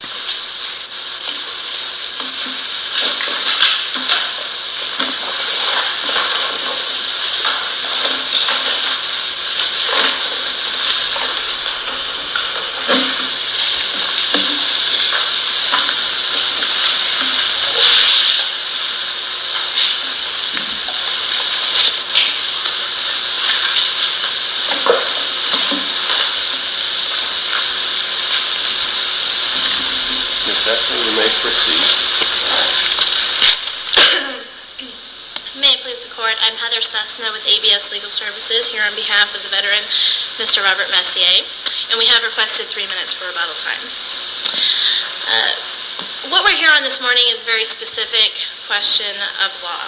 Ms. Cessna, you may proceed. May it please the court, I'm Heather Cessna with ABS Legal Services here on behalf of the veteran Mr. Robert Messier. And we have requested three minutes for rebuttal time. What we're here on this morning is a very specific question of law.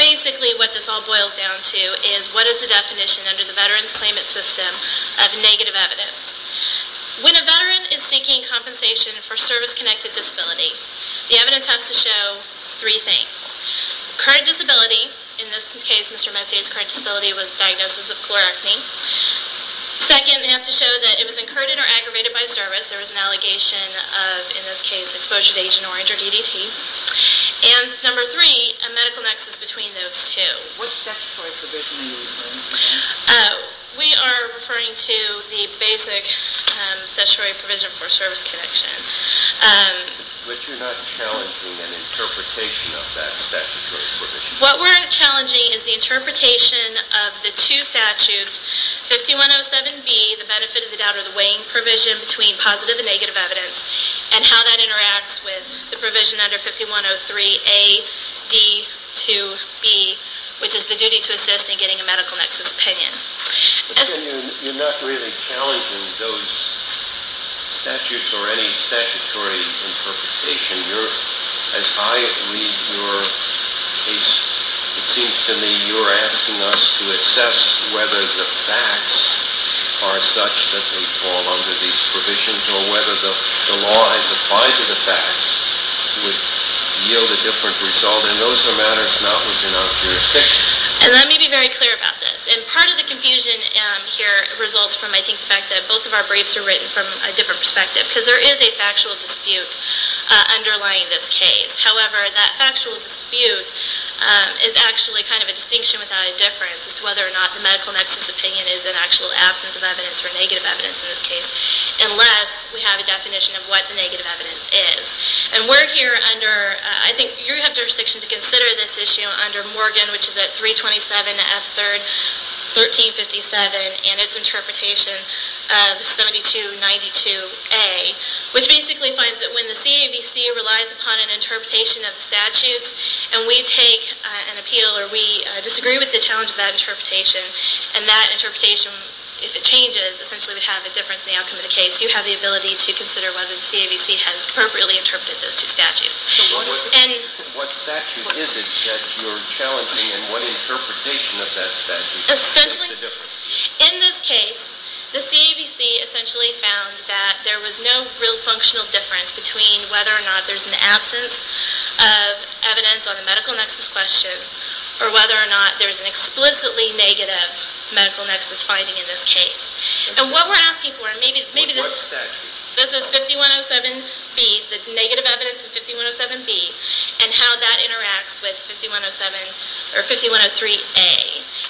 Basically what this all boils down to is what is the definition under the veteran's claimant system of negative evidence. When a veteran is seeking compensation for service-connected disability, the evidence has to show three things. Current disability, in this case Mr. Messier's current disability was diagnosis of chlorectomy. Second, they have to show that it was incurred or aggravated by service. There was an allegation of, in this case, exposure to Agent Orange or DDT. And number three, a medical nexus between those two. What statutory provision are you referring to? We are referring to the basic statutory provision for service connection. But you're not challenging an interpretation of that statutory provision? What we're challenging is the interpretation of the two statutes, 5107B, the benefit of the doubt or the weighing provision between positive and negative evidence, and how that interacts with the provision under 5103A, D, 2, B, which is the duty to assist in getting a medical nexus opinion. You're not really challenging those statutes or any statutory interpretation. As I read your case, it seems to me you're asking us to assess whether the facts are such that they fall under these provisions or whether the law as applied to the facts would yield a different result. And those are matters not within our jurisdiction. And let me be very clear about this. And part of the confusion here results from, I think, the fact that both of our briefs are written from a different perspective because there is a factual dispute underlying this case. However, that factual dispute is actually kind of a distinction without a difference as to whether or not the medical nexus opinion is an actual absence of evidence or negative evidence in this case unless we have a definition of what the negative evidence is. And we're here under, I think you have jurisdiction to consider this issue under Morgan, which is at 327 F. 3rd, 1357, and its interpretation of 7292A, which basically finds that when the CAVC relies upon an interpretation of the statutes and we take an appeal or we disagree with the challenge of that interpretation and that interpretation, if it changes, essentially would have a difference in the outcome of the case, you have the ability to consider whether the CAVC has appropriately interpreted those two statutes. What statute is it that you're challenging and what interpretation of that statute? Essentially, in this case, the CAVC essentially found that there was no real functional difference between whether or not there's an absence of evidence on the medical nexus question or whether or not there's an explicitly negative medical nexus finding in this case. And what we're asking for, and maybe this is 5107B, the negative evidence of 5107B, and how that interacts with 5103A.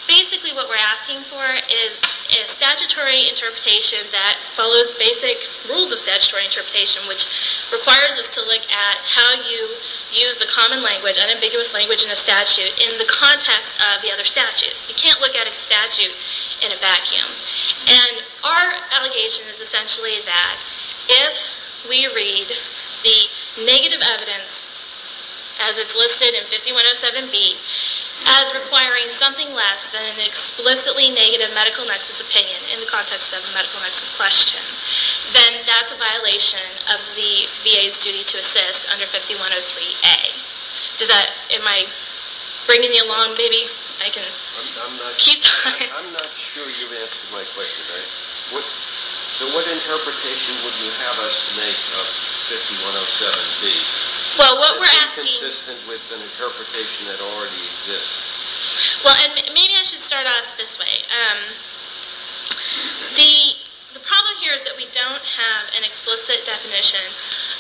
Basically what we're asking for is a statutory interpretation that follows basic rules of statutory interpretation, which requires us to look at how you use the common language, unambiguous language in a statute, in the context of the other statutes. You can't look at a statute in a vacuum. And our allegation is essentially that if we read the negative evidence as it's listed in 5107B as requiring something less than an explicitly negative medical nexus opinion in the context of a medical nexus question, then that's a violation of the VA's duty to assist under 5103A. Am I bringing you along? I'm not sure you've answered my question. So what interpretation would you have us make of 5107B? Is it consistent with an interpretation that already exists? Well, maybe I should start off this way. The problem here is that we don't have an explicit definition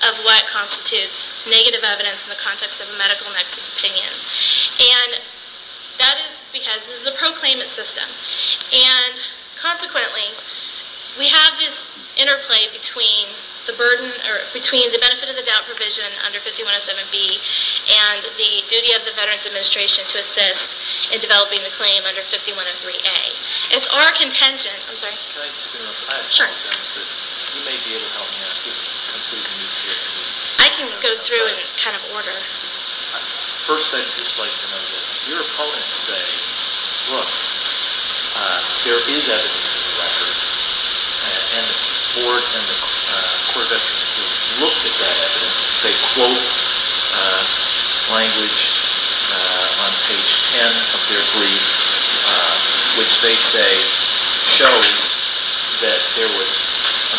of what constitutes negative evidence in the context of a medical nexus opinion. And that is because this is a proclaimant system, and consequently we have this interplay between the benefit of the doubt provision under 5107B and the duty of the Veterans Administration to assist in developing the claim under 5103A. It's our contingent. I'm sorry. Can I just say one thing? Sure. I apologize, but you may be able to help me ask this completely in your chair. I can go through and kind of order. First, I'd just like to know this. Your opponents say, look, there is evidence in the record, and the Board and the Court of Veterans have looked at that evidence. They quote language on page 10 of their brief, which they say shows that there was a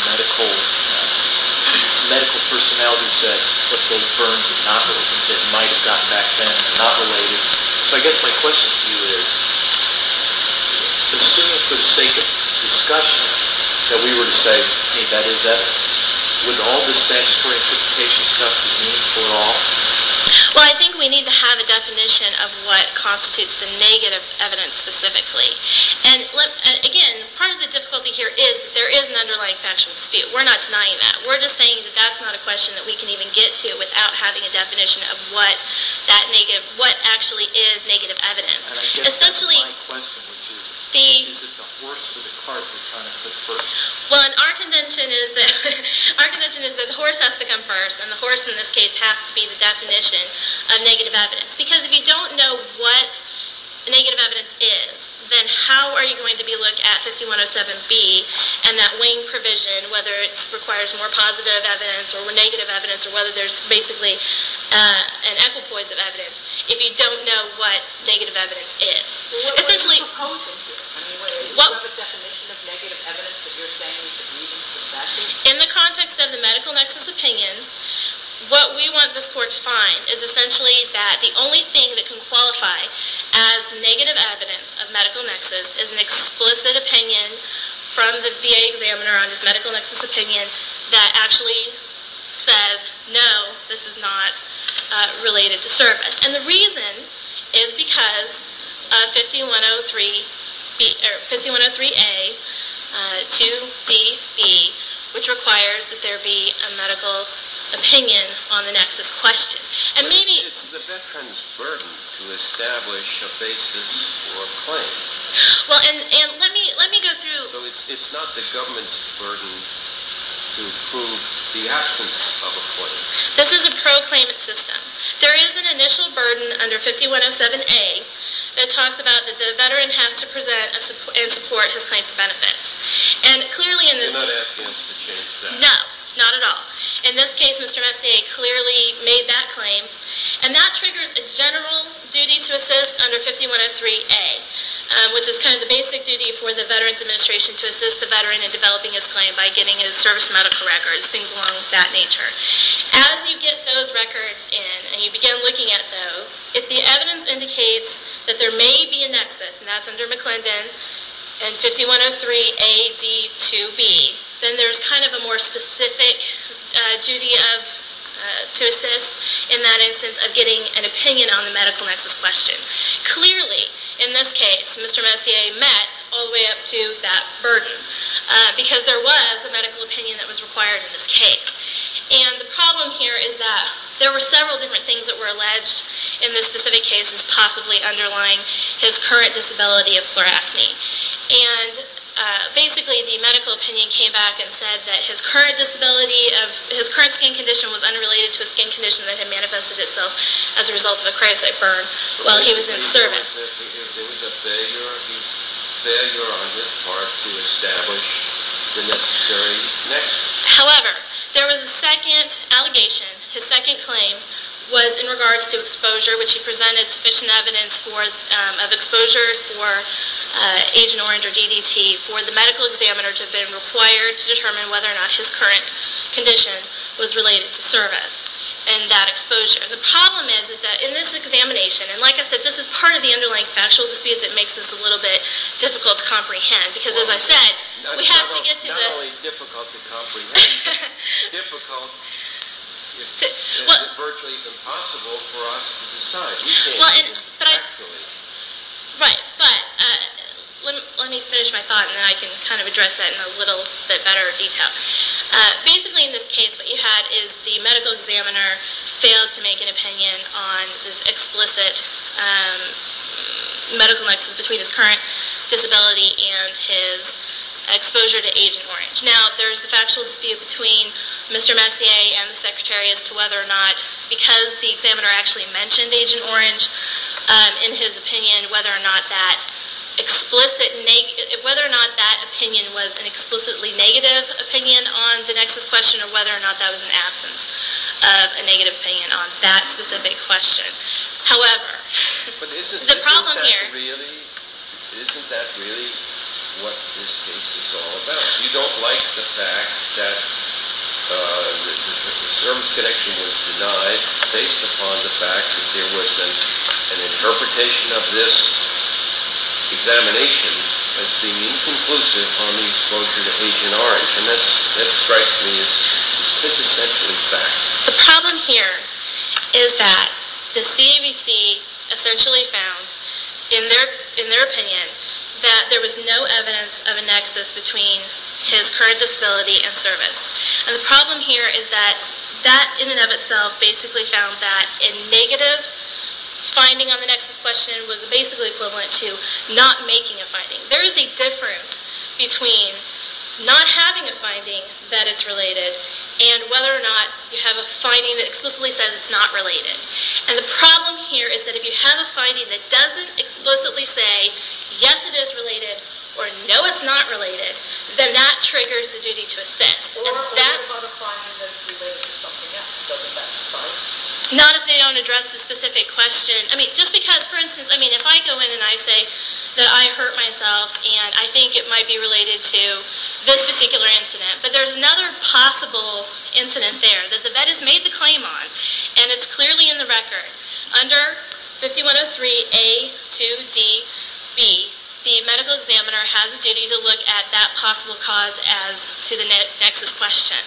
medical personality who said, but those burns are not related. It might have gotten back then. They're not related. So I guess my question to you is, assuming for the sake of discussion that we were to say, hey, that is evidence, would all this statutory interpretation stuff be meaningful at all? Well, I think we need to have a definition of what constitutes the negative evidence specifically. And, again, part of the difficulty here is that there is an underlying factual dispute. We're not denying that. We're just saying that that's not a question that we can even get to without having a definition of what actually is negative evidence. And I guess my question would be, is it the horse or the cart that kind of goes first? Well, our convention is that the horse has to come first, and the horse in this case has to be the definition of negative evidence. Because if you don't know what negative evidence is, then how are you going to be able to look at 5107B and that wing provision, whether it requires more positive evidence or negative evidence or whether there's basically an equipoise of evidence, if you don't know what negative evidence is? So what are you proposing here? I mean, do you have a definition of negative evidence that you're saying would be meaningful? In the context of the medical nexus opinion, what we want this Court to find is essentially that the only thing that can qualify as negative evidence of medical nexus is an explicit opinion from the VA examiner on his medical nexus opinion that actually says, no, this is not related to service. And the reason is because 5103A, 2DB, which requires that there be a medical opinion on the nexus question. It's the veteran's burden to establish a basis for a claim. Well, and let me go through. It's not the government's burden to prove the absence of a claim. This is a pro-claimant system. There is an initial burden under 5107A that talks about that the veteran has to present and support his claim for benefits. You're not asking us to change that. No, not at all. In this case, Mr. Messier clearly made that claim, and that triggers a general duty to assist under 5103A, which is kind of the basic duty for the Veterans Administration, to assist the veteran in developing his claim by getting his service medical records, things along that nature. As you get those records in and you begin looking at those, if the evidence indicates that there may be a nexus, and that's under McClendon and 5103A, D, 2B, then there's kind of a more specific duty to assist in that instance of getting an opinion on the medical nexus question. Clearly, in this case, Mr. Messier met all the way up to that burden because there was a medical opinion that was required in this case. The problem here is that there were several different things that were alleged in this specific case as possibly underlying his current disability of chloracne. Basically, the medical opinion came back and said that his current skin condition was unrelated to a skin condition that had manifested itself as a result of a cravesite burn while he was in service. There was a failure on his part to establish the necessary nexus. However, there was a second allegation. His second claim was in regards to exposure, which he presented sufficient evidence of exposure for Agent Orange or DDT for the medical examiner to have been required to determine whether or not his current condition was related to service and that exposure. The problem is that in this examination, and like I said, this is part of the underlying factual dispute that makes this a little bit difficult to comprehend because, as I said, we have to get to the... Not only difficult to comprehend, but difficult and virtually impossible for us to decide. We can't do it factually. Right, but let me finish my thought, and then I can kind of address that in a little bit better detail. Basically, in this case, what you had is the medical examiner failed to make an opinion on this explicit medical nexus between his current disability and his exposure to Agent Orange. Now, there's the factual dispute between Mr. Messier and the secretary as to whether or not, because the examiner actually mentioned Agent Orange in his opinion, whether or not that opinion was an explicitly negative opinion on the nexus question or whether or not that was an absence of a negative opinion on that specific question. However, the problem here... But isn't that really what this case is all about? You don't like the fact that the service connection was denied based upon the fact that there was an interpretation of this examination as being inconclusive on the exposure to Agent Orange, and that strikes me as essentially fact. The problem here is that the CAVC essentially found, in their opinion, that there was no evidence of a nexus between his current disability and service. And the problem here is that that, in and of itself, basically found that a negative finding on the nexus question was basically equivalent to not making a finding. There is a difference between not having a finding that it's related and whether or not you have a finding that explicitly says it's not related. And the problem here is that if you have a finding that doesn't explicitly say, yes, it is related or no, it's not related, then that triggers the duty to assist. Or if there's not a finding that it's related to something else, doesn't that strike? Not if they don't address the specific question. I mean, just because, for instance, if I go in and I say that I hurt myself and I think it might be related to this particular incident, but there's another possible incident there that the vet has made the claim on, and it's clearly in the record. Under 5103A2DB, the medical examiner has a duty to look at that possible cause as to the nexus question.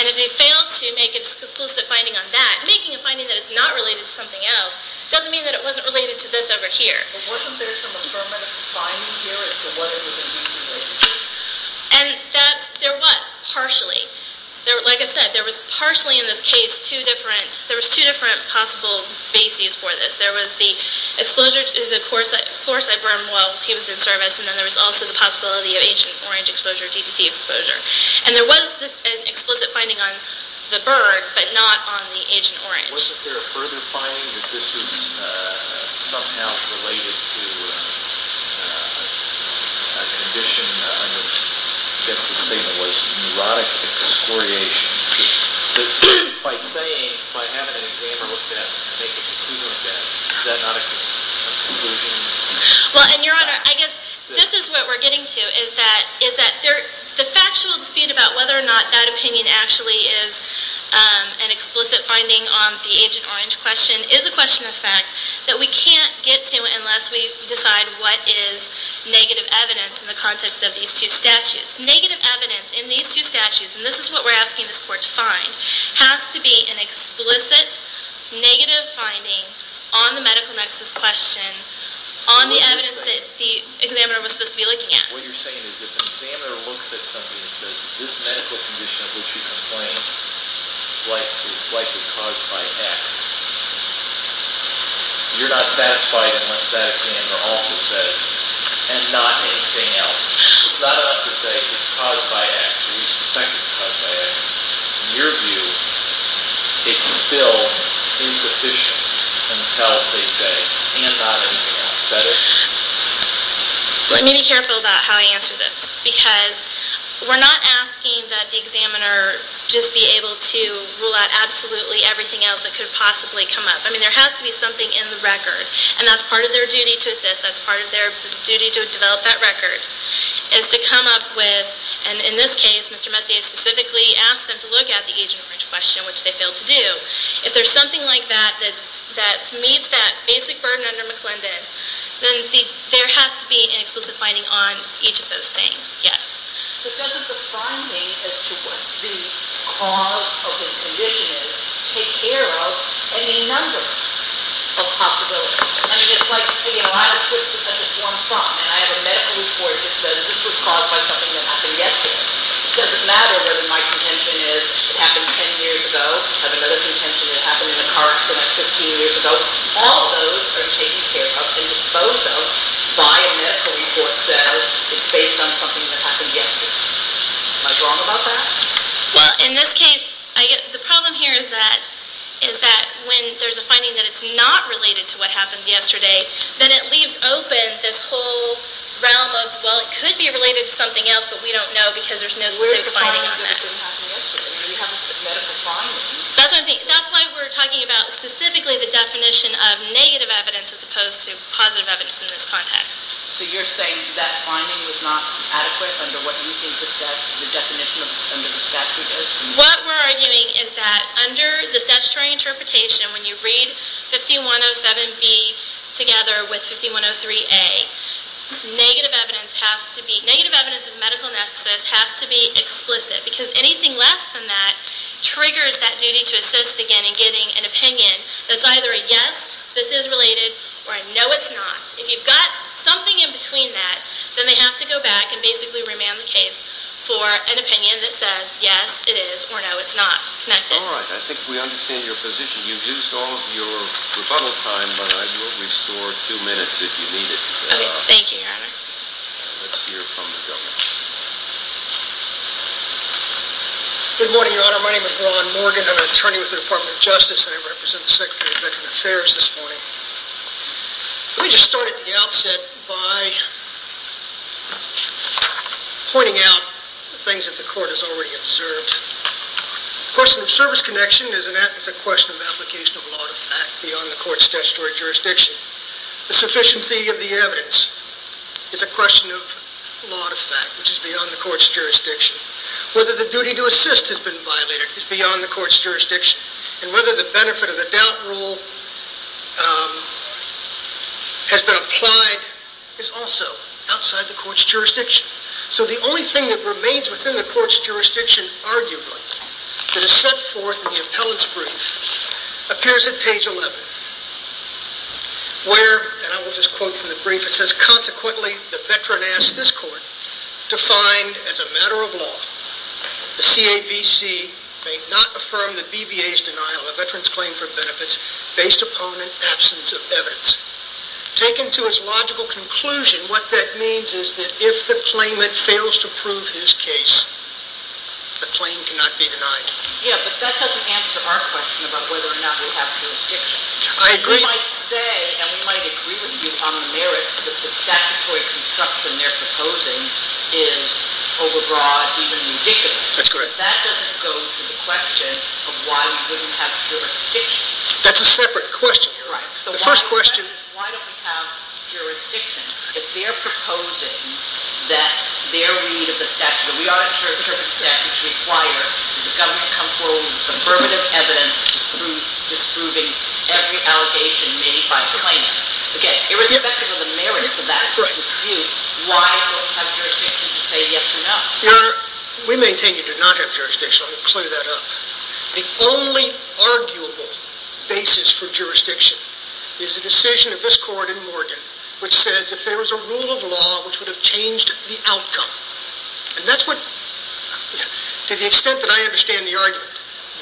And if they fail to make an exclusive finding on that, making a finding that it's not related to something else doesn't mean that it wasn't related to this over here. And there was, partially. Like I said, there was partially in this case two different possible bases for this. There was the exposure to the chlorocyte burn while he was in service, and then there was also the possibility of Agent Orange exposure, DTC exposure. And there was an explicit finding on the burn, but not on the Agent Orange. Wasn't there a further finding that this was somehow related to a condition? I guess the statement was neurotic excoriations. By saying, by having an examiner look at it, and make a conclusion of that, is that not a conclusion? Well, and your Honor, I guess this is what we're getting to, is that the factual dispute about whether or not that opinion actually is an explicit finding on the Agent Orange question is a question of fact that we can't get to unless we decide what is negative evidence in the context of these two statutes. Negative evidence in these two statutes, and this is what we're asking this Court to find, has to be an explicit negative finding on the medical nexus question, on the evidence that the examiner was supposed to be looking at. What you're saying is if an examiner looks at something and says, this medical condition of which you complain is likely caused by X, you're not satisfied unless that examiner also says, and not anything else. It's not enough to say it's caused by X. We suspect it's caused by X. In your view, it's still insufficient until they say, and not anything else. Is that it? Let me be careful about how I answer this, because we're not asking that the examiner just be able to rule out absolutely everything else that could possibly come up. I mean, there has to be something in the record, and that's part of their duty to assist, that's part of their duty to develop that record, is to come up with, and in this case, Mr. Messiah specifically asked them to look at the agent approach question, which they failed to do. If there's something like that that meets that basic burden under McClendon, then there has to be an explicit finding on each of those things, yes. But doesn't the finding as to what the cause of his condition is take care of any number of possibilities? I mean, it's like, you know, I have a twist of such a form from, and I have a medical report that says this was caused by something that happened yesterday. It doesn't matter whether my contention is it happened 10 years ago, I have another contention that it happened in a car accident 15 years ago. All those are taken care of and disposed of by a medical report that says it's based on something that happened yesterday. Am I wrong about that? Well, in this case, the problem here is that when there's a finding that it's not related to what happened yesterday, then it leaves open this whole realm of, well, it could be related to something else, but we don't know because there's no specific finding on that. Where is the problem that it didn't happen yesterday? I mean, we have a medical finding. That's what I'm saying. That's why we're talking about specifically the definition of negative evidence as opposed to positive evidence in this context. So you're saying that finding was not adequate under what you think the definition under the statute is? What we're arguing is that under the statutory interpretation, when you read 5107B together with 5103A, negative evidence of medical nexus has to be explicit because anything less than that triggers that duty to assist again in getting an opinion that's either a yes, this is related, or a no, it's not. If you've got something in between that, then they have to go back and basically remand the case for an opinion that says yes, it is, or no, it's not connected. All right, I think we understand your position. You've used all of your rebuttal time, but I will restore two minutes if you need it. Thank you, Your Honor. Let's hear from the government. Good morning, Your Honor. My name is Ron Morgan. I'm an attorney with the Department of Justice, and I represent the Secretary of Veterans Affairs this morning. Let me just start at the outset by pointing out the things that the Court has already observed. The question of service connection is a question of application of law to fact beyond the Court's statutory jurisdiction. The sufficiency of the evidence is a question of law to fact, which is beyond the Court's jurisdiction. Whether the duty to assist has been violated is beyond the Court's jurisdiction, and whether the benefit of the doubt rule has been applied is also outside the Court's jurisdiction. So the only thing that remains within the Court's jurisdiction, arguably, that is set forth in the appellant's brief appears at page 11, where, and I will just quote from the brief, it says, Consequently, the veteran asks this court to find, as a matter of law, the CAVC may not affirm the BVA's denial of a veteran's claim for benefits based upon an absence of evidence. Taken to its logical conclusion, and what that means is that if the claimant fails to prove his case, the claim cannot be denied. Yeah, but that doesn't answer our question about whether or not we have jurisdiction. I agree. We might say, and we might agree with you on the merits, that the statutory construction they're proposing is overbroad, even ridiculous. That's correct. But that doesn't go to the question of why we wouldn't have jurisdiction. That's a separate question. You're right. The first question is why don't we have jurisdiction if they're proposing that their read of the statute, and we are not sure which statute to require, does the government come forward with affirmative evidence disproving every allegation made by the claimant? Again, irrespective of the merits of that dispute, why don't we have jurisdiction to say yes or no? Your Honor, we maintain you do not have jurisdiction. I'll clear that up. The only arguable basis for jurisdiction is the decision of this court in Morgan which says if there was a rule of law which would have changed the outcome, and that's what, to the extent that I understand the argument,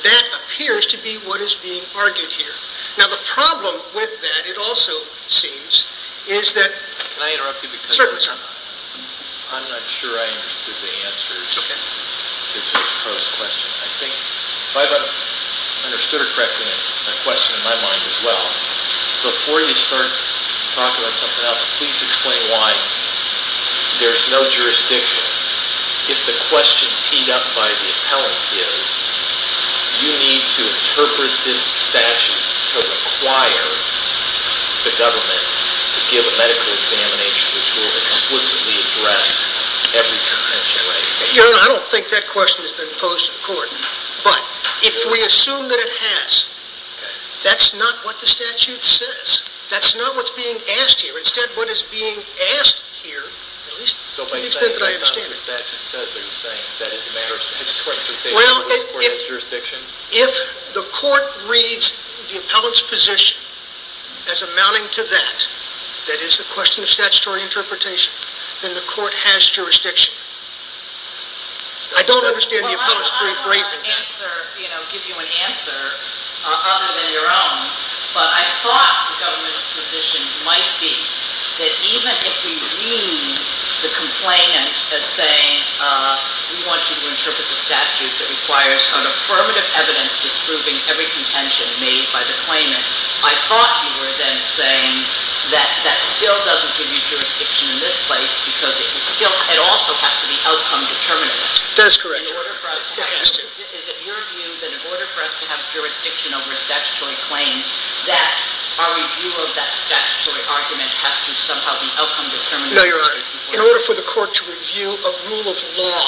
that appears to be what is being argued here. Now, the problem with that, it also seems, is that – Can I interrupt you? Certainly, sir. I'm not sure I understood the answer to the first question. I think if I've understood it correctly, it's a question in my mind as well. Before you start talking about something else, please explain why there's no jurisdiction. If the question teed up by the appellant is, you need to interpret this statute to require the government to give a medical examination which will explicitly address every contention, right? Your Honor, I don't think that question has been posed to the court. But if we assume that it has, that's not what the statute says. That's not what's being asked here. Instead, what is being asked here, at least to the extent that I understand it – So based on what the statute says, are you saying that it's a matter of statutory interpretation that this court has jurisdiction? If the court reads the appellant's position as amounting to that, that is the question of statutory interpretation, then the court has jurisdiction. I don't understand the appellant's brief phrasing. Well, I'll give you an answer other than your own. But I thought the government's position might be that even if we read the complainant as saying, we want you to interpret the statute that requires an affirmative evidence disproving every contention made by the claimant, I thought you were then saying that that still doesn't give you jurisdiction in this place because it also has to be outcome determinative. That is correct. Is it your view that in order for us to have jurisdiction over a statutory claim, that our review of that statutory argument has to somehow be outcome determinative? No, Your Honor. In order for the court to review a rule of law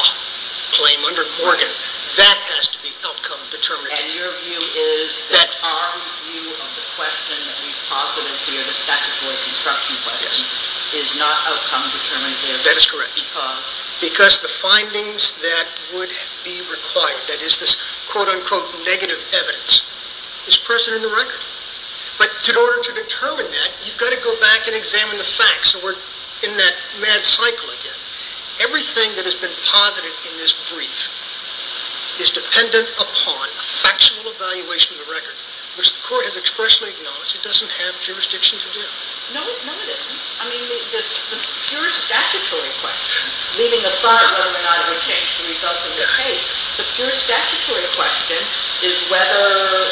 claim under Morgan, that has to be outcome determinative. And your view is that our view of the question that we've posited here, the statutory construction question, is not outcome determinative because? That is correct. Because the findings that would be required, that is this quote-unquote negative evidence, is present in the record. But in order to determine that, you've got to go back and examine the facts. So we're in that mad cycle again. Everything that has been posited in this brief is dependent upon a factual evaluation of the record, which the court has expressly acknowledged it doesn't have jurisdiction to do. No, it doesn't. I mean, the pure statutory question, leaving aside whether or not it would change the results of this case, the pure statutory question is whether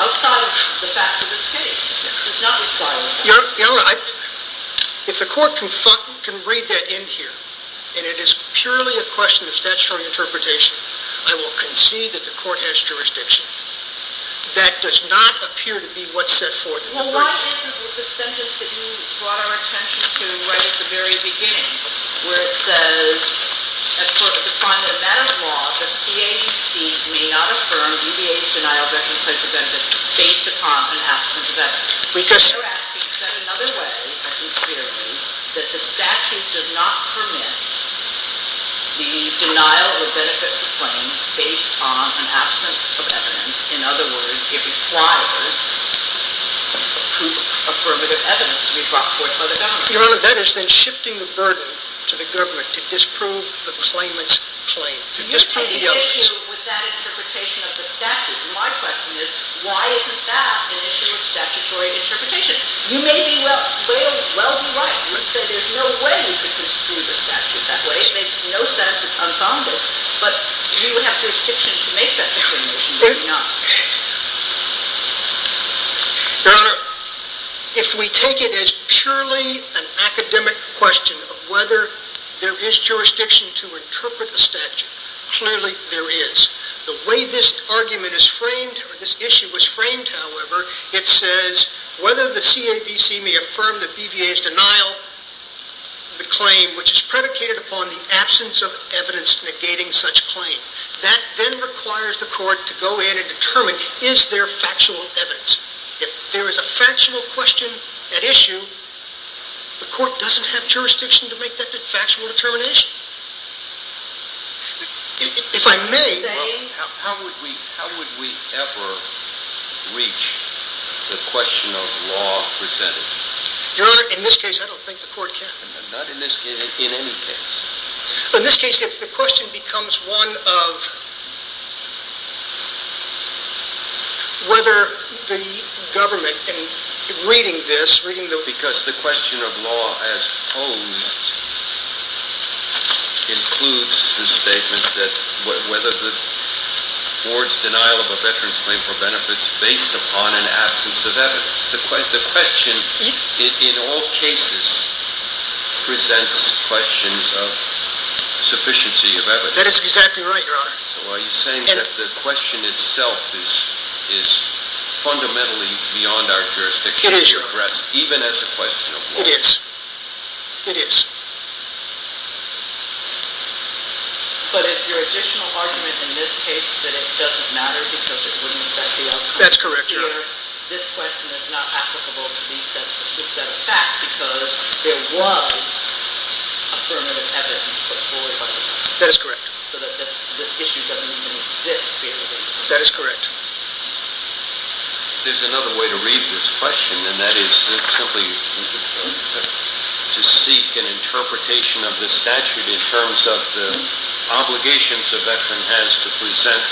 outside the facts of this case. It's not required. Your Honor, if the court can read that in here, and it is purely a question of statutory interpretation, I will concede that the court has jurisdiction. That does not appear to be what's set forth in the brief. Well, why isn't the sentence that you brought our attention to right at the very beginning, where it says, as part of the final event of law, the CAGC may not affirm, deviate, denial, based upon an absence of evidence. Your Honor, that is then shifting the burden to the government to disprove the claimant's claim, to disprove the evidence. My question is, why isn't that an issue of statutory interpretation? You may well be right. You said there's no way you could disprove the statute that way. It makes no sense. It's unfounded. But do you have jurisdiction to make that discretion? Maybe not. Your Honor, if we take it as purely an academic question of whether there is jurisdiction to interpret the statute, clearly there is. The way this argument is framed, or this issue was framed, however, it says, whether the CABC may affirm the BVA's denial of the claim, which is predicated upon the absence of evidence negating such claim. That then requires the court to go in and determine, is there factual evidence? If there is a factual question at issue, the court doesn't have jurisdiction to make that factual determination. If I may. How would we ever reach the question of law presented? Your Honor, in this case, I don't think the court can. Not in this case. In any case. In this case, if the question becomes one of whether the government, Because the question of law as posed includes the statement that whether the board's denial of a veteran's claim for benefit is based upon an absence of evidence. The question, in all cases, presents questions of sufficiency of evidence. That is exactly right, Your Honor. So are you saying that the question itself is fundamentally beyond our jurisdiction? It is, Your Honor. Even as a question of law? It is. It is. But is your additional argument in this case that it doesn't matter because it wouldn't affect the outcome? That's correct, Your Honor. This question is not applicable to these sets of facts because there was a permanent evidence portfolio. That is correct. So the issue doesn't even exist periodically. That is correct. There's another way to read this question, and that is simply to seek an interpretation of the statute in terms of the obligations a veteran has to present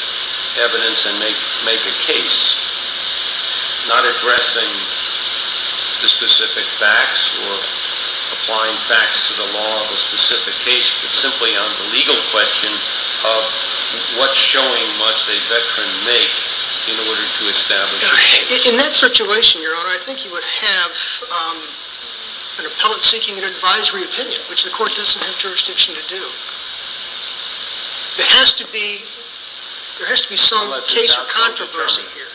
evidence and make a case, not addressing the specific facts or applying facts to the law of a specific case, but simply on the legal question of what showing must a veteran make in order to establish a case. In that situation, Your Honor, I think you would have an appellate seeking an advisory opinion, which the court doesn't have jurisdiction to do. There has to be some case or controversy here.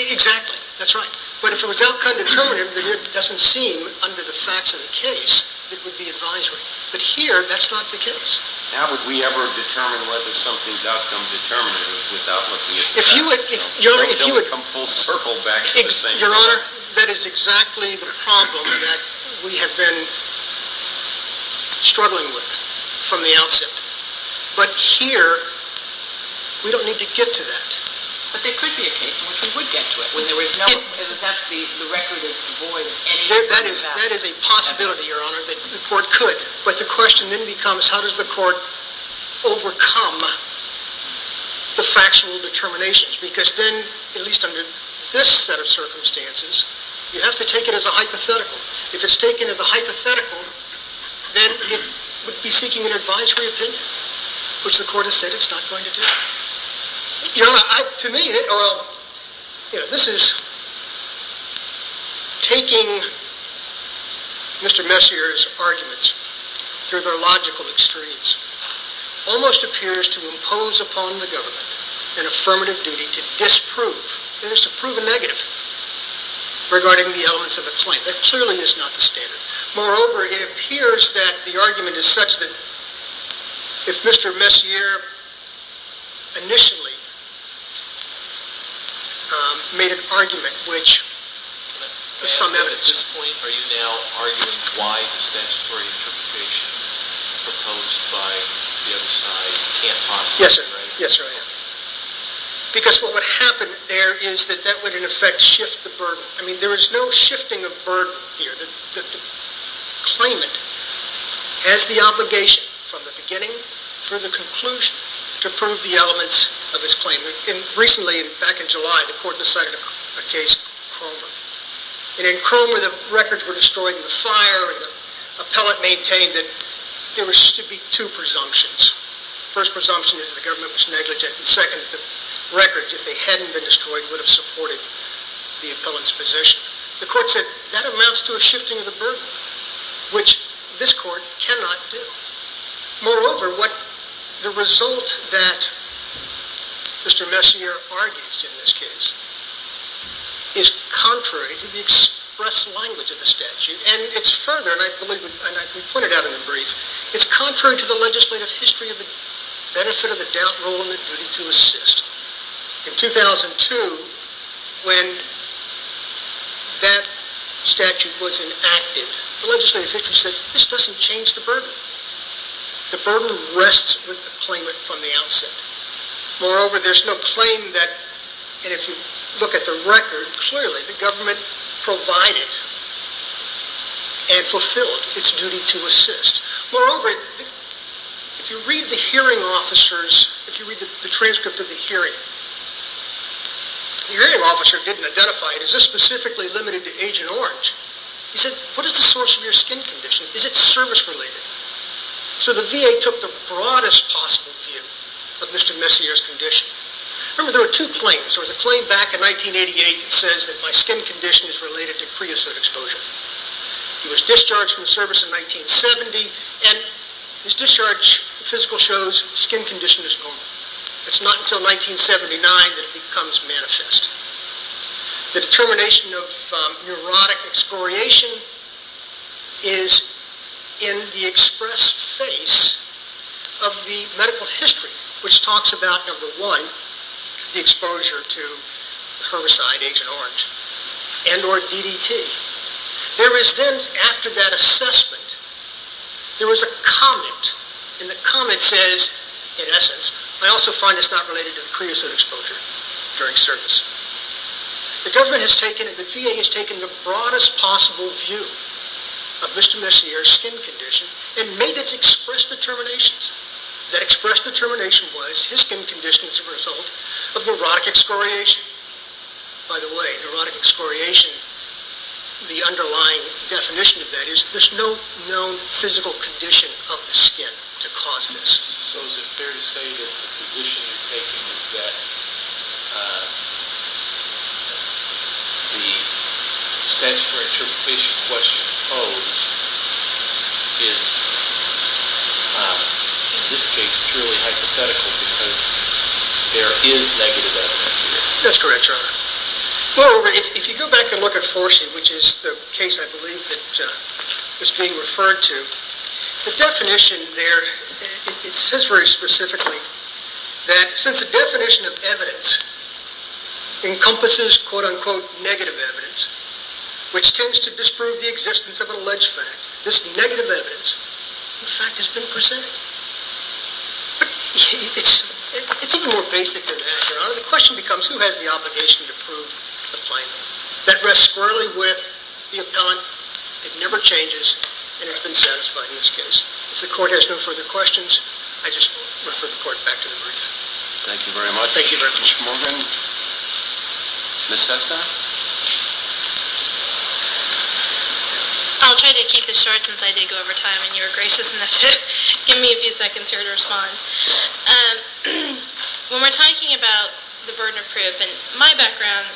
Exactly. That's right. But if it was outcome determinative, then it doesn't seem under the facts of the case that it would be advisory. But here, that's not the case. How would we ever determine whether something's outcome determinative without looking at the facts? It would come full circle back to the same exact thing. Your Honor, that is exactly the problem that we have been struggling with from the outset. But here, we don't need to get to that. But there could be a case in which we would get to it when the record is devoid of any evidence of that. That is a possibility, Your Honor, that the court could. But the question then becomes, how does the court overcome the factual determinations? Because then, at least under this set of circumstances, you have to take it as a hypothetical. If it's taken as a hypothetical, then it would be seeking an advisory opinion, which the court has said it's not going to do. Your Honor, to me, this is taking Mr. Messier's arguments through their logical extremes. It almost appears to impose upon the government an affirmative duty to disprove. That is, to prove a negative regarding the elements of the claim. That clearly is not the standard. Moreover, it appears that the argument is such that if Mr. Messier initially made an argument which is some evidence... At this point, are you now arguing why this statutory interpretation proposed by the other side can't possibly be right? Yes, sir. Yes, sir, I am. Because what would happen there is that that would in effect shift the burden. I mean, there is no shifting of burden here. The claimant has the obligation from the beginning through the conclusion to prove the elements of his claim. Recently, back in July, the court decided a case in Cromer. In Cromer, the records were destroyed in the fire and the appellant maintained that there should be two presumptions. The first presumption is that the government was negligent. The second is that the records, if they hadn't been destroyed, would have supported the appellant's position. The court said that amounts to a shifting of the burden, which this court cannot do. Moreover, what the result that Mr. Messier argues in this case is contrary to the express language of the statute, and it's further, and I believe we pointed out in the brief, it's contrary to the legislative history of the benefit of the doubt role in the duty to assist. In 2002, when that statute was enacted, the legislative history says this doesn't change the burden. The burden rests with the claimant from the outset. Moreover, there's no claim that, and if you look at the record, clearly the government provided and fulfilled its duty to assist. Moreover, if you read the hearing officers, if you read the transcript of the hearing, the hearing officer didn't identify, is this specifically limited to Agent Orange? He said, what is the source of your skin condition? Is it service-related? So the VA took the broadest possible view of Mr. Messier's condition. Remember, there were two claims. There was a claim back in 1988 that says that my skin condition is related to creosote exposure. He was discharged from the service in 1970, and his discharge physical shows skin condition is normal. It's not until 1979 that it becomes manifest. The determination of neurotic excoriation is in the express face of the medical history, which talks about, number one, the exposure to the herbicide Agent Orange and or DDT. There is then, after that assessment, there was a comment, and the comment says, in essence, I also find it's not related to the creosote exposure during service. The government has taken, and the VA has taken, the broadest possible view of Mr. Messier's skin condition and made its express determinations. That express determination was his skin condition is a result of neurotic excoriation. By the way, neurotic excoriation, the underlying definition of that is there's no known physical condition of the skin to cause this. So is it fair to say that the position you're taking is that the stance for interpretation of what's supposed is, in this case, purely hypothetical because there is negative evidence in it? That's correct, Your Honor. Well, if you go back and look at 4C, which is the case I believe that was being referred to, the definition there, it says very specifically that since the definition of evidence encompasses quote-unquote negative evidence, which tends to disprove the existence of an alleged fact, this negative evidence, in fact, has been presented. But it's even more basic than that, Your Honor. The question becomes, who has the obligation to prove the plaintiff? That rests squarely with the appellant. It never changes and has been satisfied in this case. If the court has no further questions, I just refer the court back to the brief. Thank you very much. Thank you very much. Ms. Morgan? Ms. Sesta? I'll try to keep it short since I did go over time and you were gracious enough to give me a few seconds here to respond. When we're talking about the burden of proof, and my background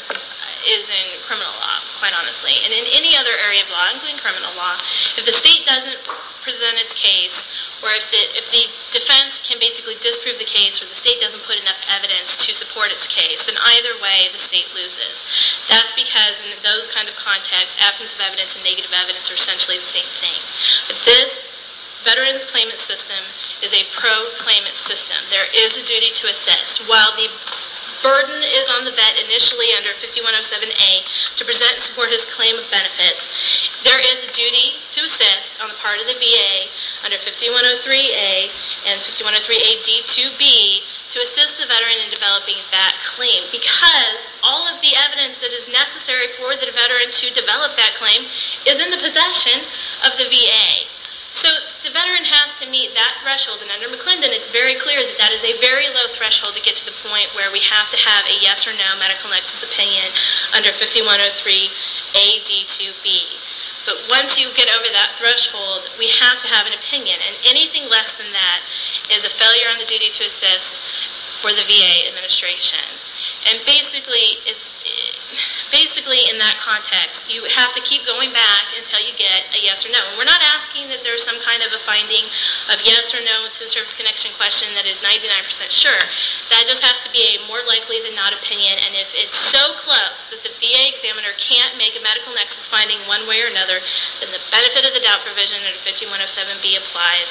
is in criminal law, quite honestly, and in any other area of law, including criminal law, if the state doesn't present its case or if the defense can basically disprove the case or the state doesn't put enough evidence to support its case, then either way the state loses. That's because in those kind of contexts, absence of evidence and negative evidence are essentially the same thing. This Veterans Claimant System is a pro-claimant system. There is a duty to assist. While the burden is on the vet initially under 5107A to present and support his claim of benefits, there is a duty to assist on the part of the VA under 5103A and 5103AD2B to assist the veteran in developing that claim for the veteran to develop that claim is in the possession of the VA. So the veteran has to meet that threshold, and under McClendon it's very clear that that is a very low threshold to get to the point where we have to have a yes or no medical nexus opinion under 5103AD2B. But once you get over that threshold, we have to have an opinion, and anything less than that is a failure on the duty to assist for the VA administration. And basically in that context, you have to keep going back until you get a yes or no. We're not asking that there's some kind of a finding of yes or no to the service connection question that is 99% sure. That just has to be a more likely than not opinion, and if it's so close that the VA examiner can't make a medical nexus finding one way or another, then the benefit of the doubt provision under 5107B applies,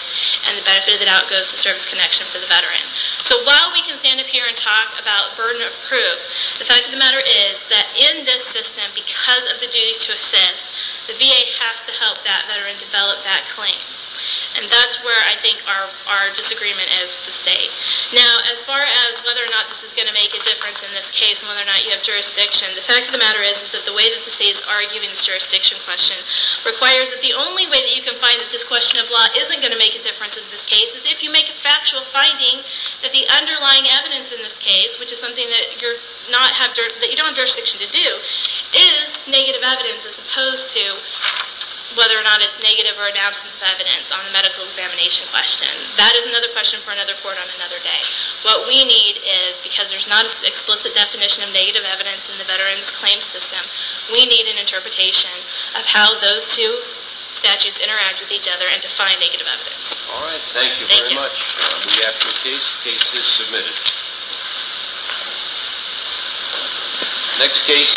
and the benefit of the doubt goes to service connection for the veteran. So while we can stand up here and talk about burden of proof, the fact of the matter is that in this system, because of the duty to assist, the VA has to help that veteran develop that claim. And that's where I think our disagreement is with the state. Now, as far as whether or not this is going to make a difference in this case and whether or not you have jurisdiction, the fact of the matter is that the way that the state is arguing this jurisdiction question requires that the only way that you can find that this question of law isn't going to make a difference in this case is if you make a factual finding that the underlying evidence in this case, which is something that you don't have jurisdiction to do, is negative evidence as opposed to whether or not it's negative or an absence of evidence on the medical examination question. That is another question for another court on another day. What we need is, because there's not an explicit definition of negative evidence in the Veterans Claims System, we need an interpretation of how those two statutes interact with each other and define negative evidence. All right. Thank you very much. We have your case. The case is submitted. Next case. Thank you.